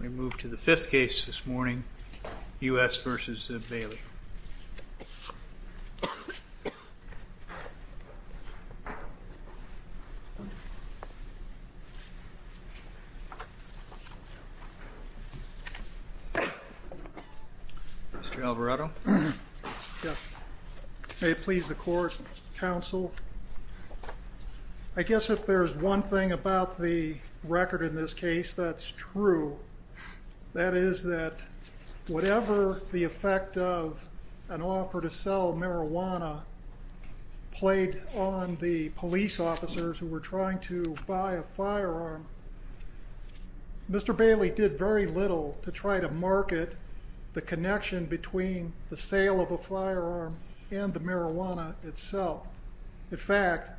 We move to the fifth case this morning, U.S. v. Bailey. Mr. Alvarado? Yes. May it please the court, counsel, I guess if there's one thing about the record in this case that's true, that is that whatever the effect of an offer to sell marijuana played on the police officers who were trying to buy a firearm, Mr. Bailey did very little to try to market the connection between the sale of a firearm and the marijuana itself. In fact,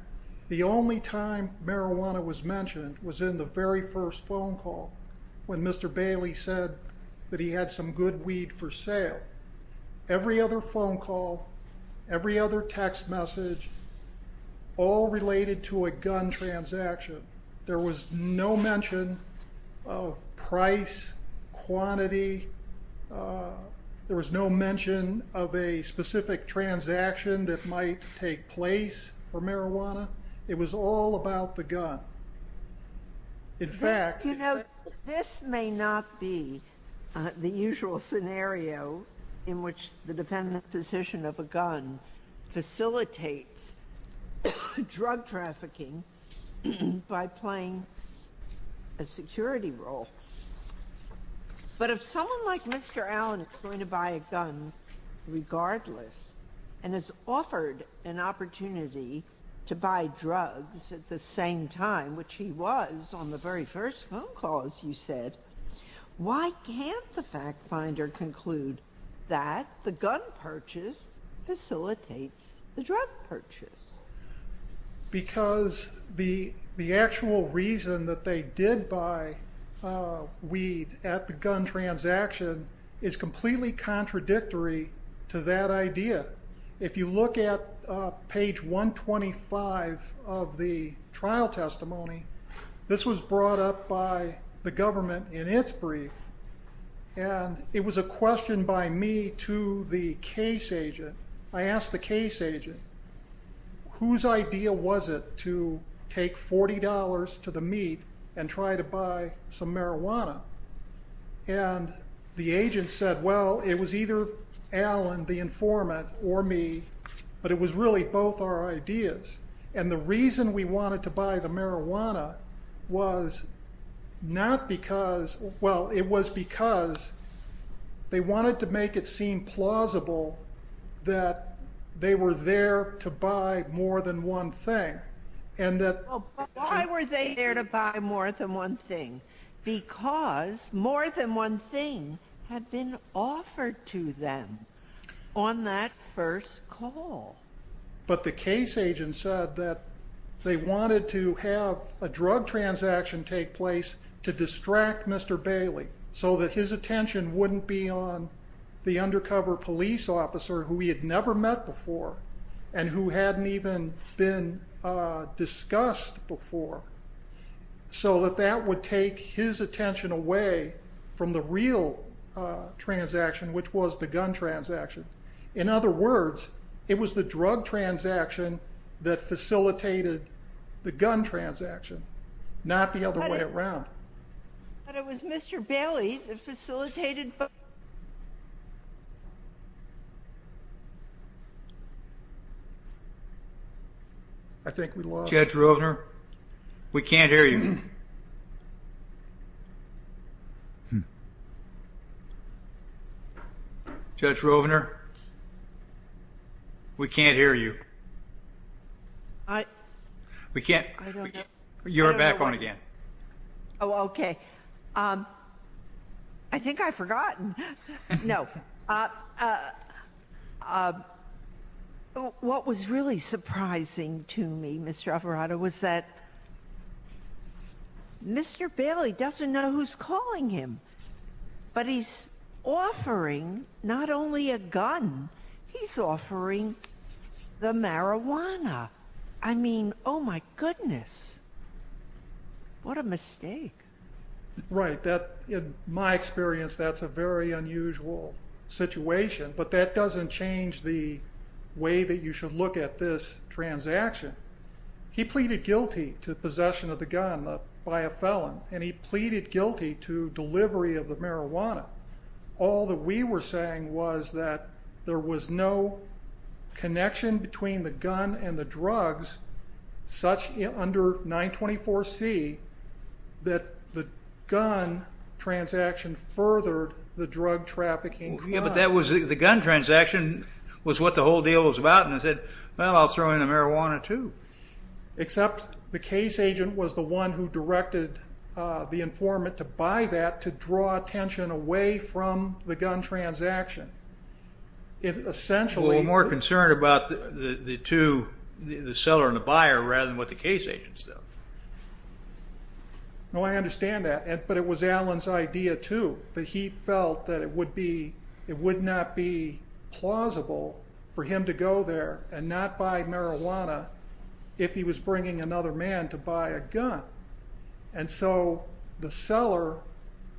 the only time marijuana was mentioned was in the very first phone call when Mr. Bailey said that he had some good weed for sale. Every other phone call, every other text message, all related to a gun transaction. There was no mention of price, quantity. There was no mention of a specific transaction that might take place for marijuana. It was all about the gun. In fact... You know, this may not be the usual scenario in which the defendant's position of a gun facilitates drug trafficking by playing a security role. But if someone like Mr. Allen is going to buy a gun regardless and is offered an opportunity to buy drugs at the same time, which he was on the very first phone call, as you said, why can't the fact finder conclude that the gun purchase facilitates the drug purchase? Because the actual reason that they did buy weed at the gun transaction is completely contradictory to that idea. If you look at page 125 of the trial testimony, this was brought up by the government in its brief, and it was a question by me to the case agent. I asked the case agent, whose idea was it to take $40 to the meet and try to buy some marijuana? And the agent said, well, it was either Allen, the informant, or me, but it was really both our ideas. And the reason we wanted to buy the marijuana was not because, well, it was because they wanted to make it seem plausible that they were there to buy more than one thing. Why were they there to buy more than one thing? Because more than one thing had been offered to them on that first call. But the case agent said that they wanted to have a drug transaction take place to distract Mr. Bailey, so that his attention wouldn't be on the undercover police officer who he had never met before, and who hadn't even been discussed before. So that that would take his attention away from the real transaction, which was the gun transaction. In other words, it was the drug transaction that facilitated the gun transaction, not the other way around. But it was Mr. Bailey that facilitated both. I think we lost him. Judge Rovner, we can't hear you. We can't. You're back on again. Oh, okay. I think I've forgotten. No. What was really surprising to me, Mr. Alvarado, was that Mr. Rovner was the only person in the courtroom Mr. Bailey doesn't know who's calling him, but he's offering not only a gun, he's offering the marijuana. I mean, oh my goodness. What a mistake. Right. In my experience, that's a very unusual situation, but that doesn't change the way that you should look at this transaction. He pleaded guilty to possession of the gun by a felon, and he pleaded guilty to delivery of the marijuana. All that we were saying was that there was no connection between the gun and the drugs such under 924C that the gun transaction furthered the drug trafficking crime. Yeah, but the gun transaction was what the whole deal was about, and I said, well, I'll throw in the marijuana too. Except the case agent was the one who directed the informant to buy that to draw attention away from the gun transaction. Well, we're more concerned about the seller and the buyer rather than what the case agent said. No, I understand that, but it was Alan's idea too that he felt that it would not be plausible for him to go there and not buy marijuana if he was bringing another man to buy a gun. And so the seller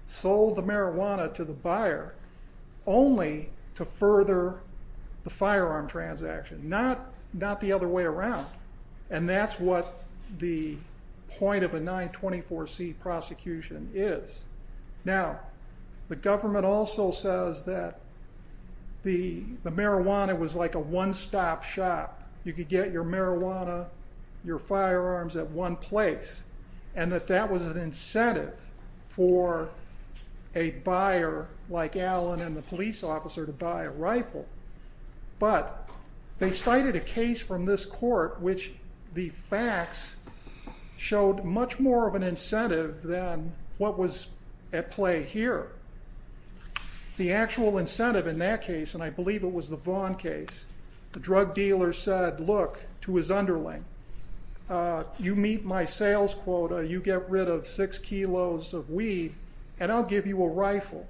sold the marijuana to the buyer only to further the firearm transaction, not the other way around. And that's what the point of a 924C prosecution is. Now, the government also says that the marijuana was like a one-stop shop. You could get your marijuana, your firearms at one place, and that that was an incentive for a buyer like Alan and the police officer to buy a rifle. But they cited a case from this court which the facts showed much more of an incentive than what was at play here. The actual incentive in that case, and I believe it was the Vaughn case, the drug dealer said, look, to his underling, you meet my sales quota, you get rid of six kilos of weed, and I'll give you a rifle.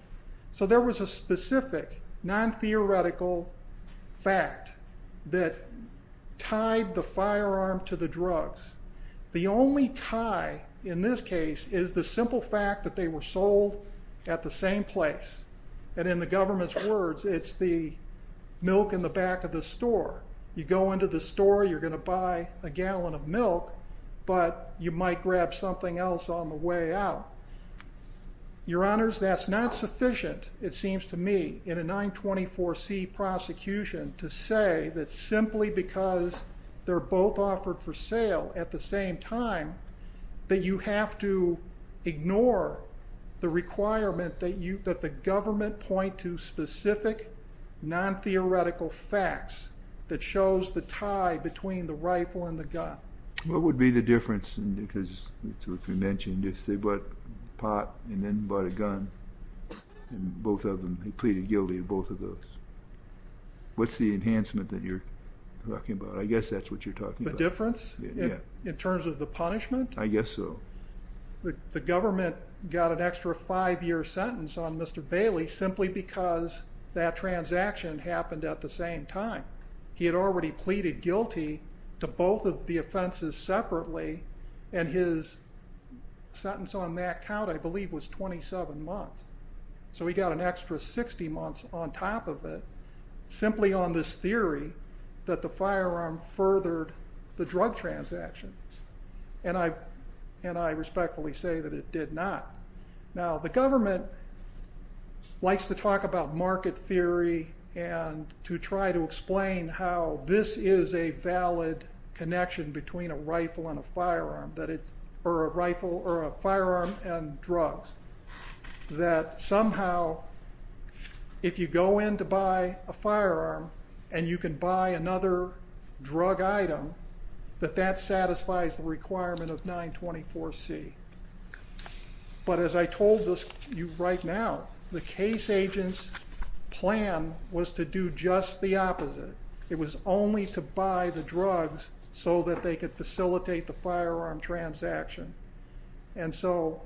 So there was a specific non-theoretical fact that tied the firearm to the drugs. The only tie in this case is the simple fact that they were sold at the same place. And in the government's words, it's the milk in the back of the store. You go into the store, you're going to buy a gallon of milk, but you might grab something else on the way out. Your Honors, that's not sufficient, it seems to me, in a 924C prosecution to say that simply because they're both offered for sale at the same time that you have to ignore the requirement that the government point to specific non-theoretical facts that shows the tie between the rifle and the gun. What would be the difference, because it's what you mentioned, if they bought a pot and then bought a gun, and both of them, he pleaded guilty to both of those. What's the enhancement that you're talking about? I guess that's what you're talking about. The difference? Yeah. In terms of the punishment? I guess so. The government got an extra five-year sentence on Mr. Bailey simply because that transaction happened at the same time. He had already pleaded guilty to both of the offenses separately, and his sentence on that count, I believe, was 27 months. So he got an extra 60 months on top of it simply on this theory that the firearm furthered the drug transaction, and I respectfully say that it did not. Now, the government likes to talk about market theory and to try to explain how this is a valid connection between a rifle and a firearm, or a firearm and drugs, that somehow if you go in to buy a firearm and you can buy another drug item, that that satisfies the requirement of 924C. But as I told you right now, the case agent's plan was to do just the opposite. It was only to buy the drugs so that they could facilitate the firearm transaction. And so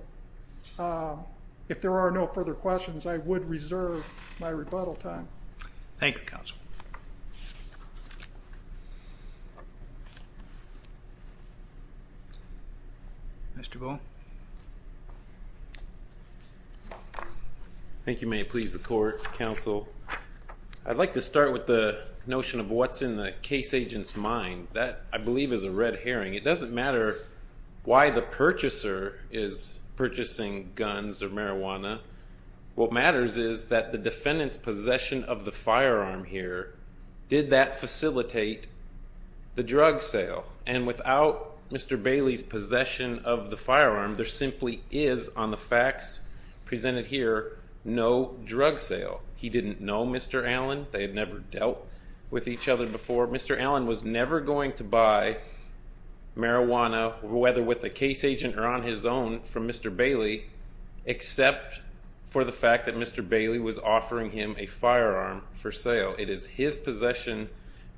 if there are no further questions, I would reserve my rebuttal time. Thank you, Counsel. Mr. Bull? Thank you. May it please the Court, Counsel. I'd like to start with the notion of what's in the case agent's mind. That, I believe, is a red herring. It doesn't matter why the purchaser is purchasing guns or marijuana. What matters is that the defendant's possession of the firearm here, did that facilitate the drug sale? And without Mr. Bailey's possession of the firearm, there simply is, on the facts presented here, no drug sale. He didn't know Mr. Allen. They had never dealt with each other before. Mr. Allen was never going to buy marijuana, whether with a case agent or on his own, from Mr. Bailey, except for the fact that Mr. Bailey was offering him a firearm for sale. It is his possession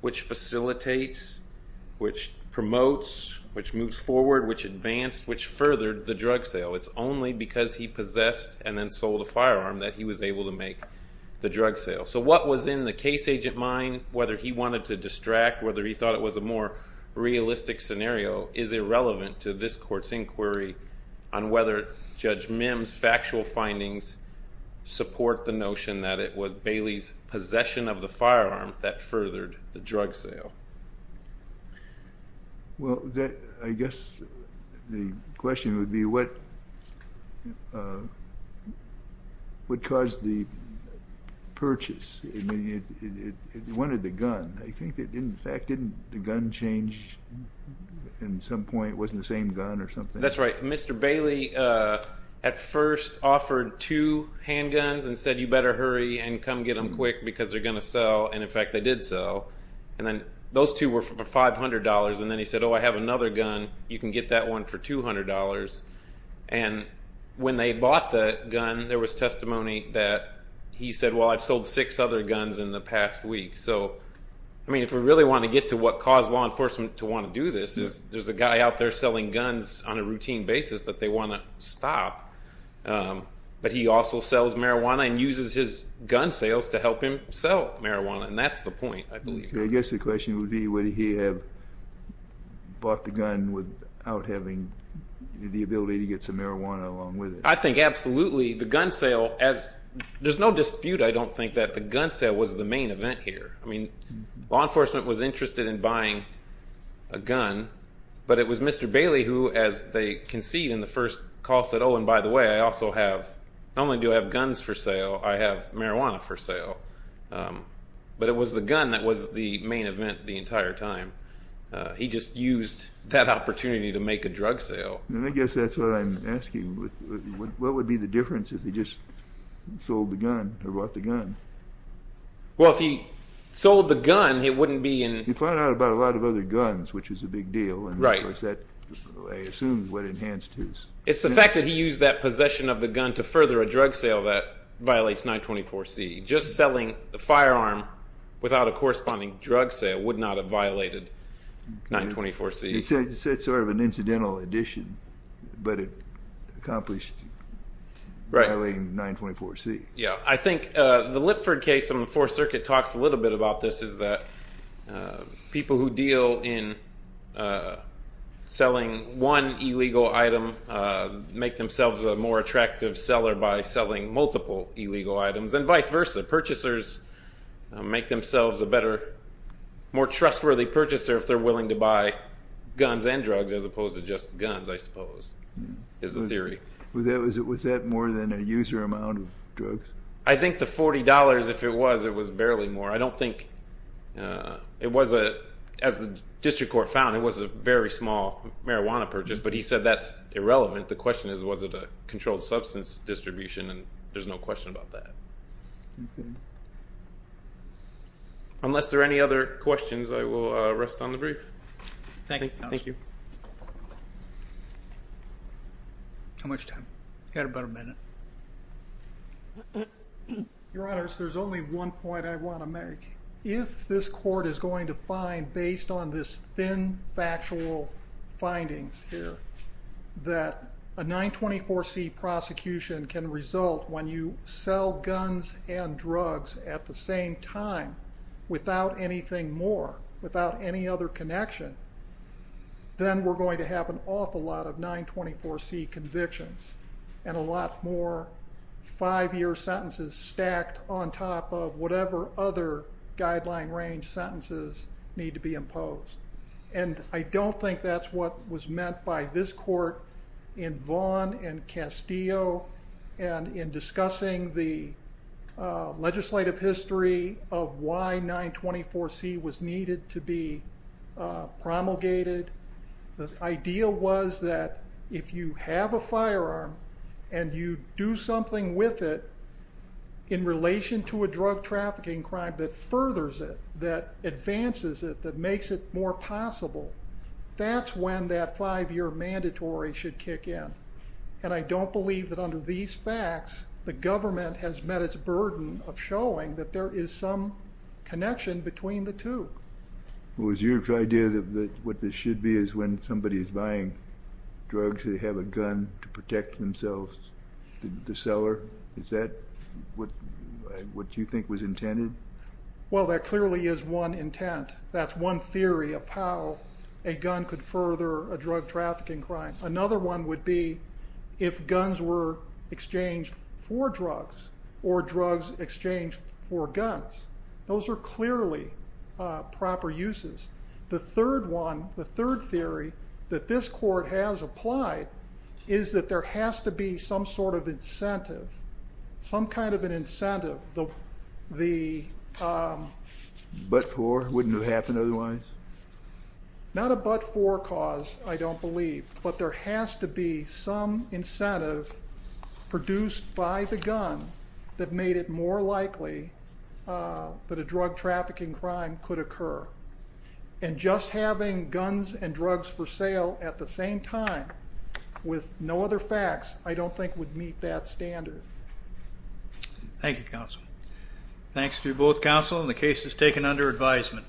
which facilitates, which promotes, which moves forward, which advanced, which furthered the drug sale. It's only because he possessed and then sold a firearm that he was able to make the drug sale. So what was in the case agent mind, whether he wanted to distract, whether he thought it was a more realistic scenario, is irrelevant to this Court's inquiry on whether Judge Mims' factual findings support the notion that it was Bailey's possession of the firearm that furthered the drug sale. Well, I guess the question would be what caused the purchase? I mean, he wanted the gun. I think, in fact, didn't the gun change in some point? It wasn't the same gun or something? That's right. Mr. Bailey at first offered two handguns and said, you better hurry and come get them quick because they're going to sell. And, in fact, they did sell. And then those two were for $500. And then he said, oh, I have another gun. You can get that one for $200. And when they bought the gun, there was testimony that he said, well, I've sold six other guns in the past week. So, I mean, if we really want to get to what caused law enforcement to want to do this, there's a guy out there selling guns on a routine basis that they want to stop. But he also sells marijuana and uses his gun sales to help him sell marijuana. And that's the point, I believe. I guess the question would be would he have bought the gun without having the ability to get some marijuana along with it? I think absolutely. The gun sale, there's no dispute, I don't think, that the gun sale was the main event here. I mean, law enforcement was interested in buying a gun, but it was Mr. Bailey who, as they concede in the first call, said, oh, and by the way, I also have, not only do I have guns for sale, I have marijuana for sale. But it was the gun that was the main event the entire time. He just used that opportunity to make a drug sale. And I guess that's what I'm asking. What would be the difference if he just sold the gun or bought the gun? Well, if he sold the gun, it wouldn't be in... You find out about a lot of other guns, which is a big deal. Right. And, of course, that assumes what enhanced his... It's the fact that he used that possession of the gun to further a drug sale that violates 924C. Just selling a firearm without a corresponding drug sale would not have violated 924C. It's sort of an incidental addition, but it accomplished violating 924C. Yeah, I think the Lipford case in the Fourth Circuit talks a little bit about this, is that people who deal in selling one illegal item make themselves a more attractive seller by selling multiple illegal items, and vice versa. Purchasers make themselves a better, more trustworthy purchaser if they're willing to buy guns and drugs as opposed to just guns, I suppose, is the theory. Was that more than a user amount of drugs? I think the $40, if it was, it was barely more. I don't think it was a... As the district court found, it was a very small marijuana purchase, but he said that's irrelevant. The question is, was it a controlled substance distribution, and there's no question about that. Unless there are any other questions, I will rest on the brief. Thank you, counsel. Thank you. How much time? You had about a minute. Your Honors, there's only one point I want to make. If this court is going to find, based on this thin factual findings here, that a 924C prosecution can result when you sell guns and drugs at the same time without anything more, without any other connection, then we're going to have an awful lot of 924C convictions and a lot more five-year sentences stacked on top of whatever other guideline range sentences need to be imposed. I don't think that's what was meant by this court in Vaughn and Castillo and in discussing the legislative history of why 924C was needed to be promulgated. The idea was that if you have a firearm and you do something with it in relation to a drug trafficking crime that furthers it, that advances it, that makes it more possible, that's when that five-year mandatory should kick in. And I don't believe that under these facts, the government has met its burden of showing that there is some connection between the two. Was your idea that what this should be is when somebody is buying drugs, they have a gun to protect themselves, the seller, is that what you think was intended? Well, there clearly is one intent. That's one theory of how a gun could further a drug trafficking crime. Another one would be if guns were exchanged for drugs or drugs exchanged for guns. Those are clearly proper uses. The third one, the third theory that this court has applied, is that there has to be some sort of incentive, some kind of an incentive. The but-for, wouldn't it happen otherwise? Not a but-for cause, I don't believe, but there has to be some incentive produced by the gun that made it more that a drug trafficking crime could occur. And just having guns and drugs for sale at the same time with no other facts, I don't think would meet that standard. Thank you, counsel. Thanks to both counsel, and the case is taken under advisement.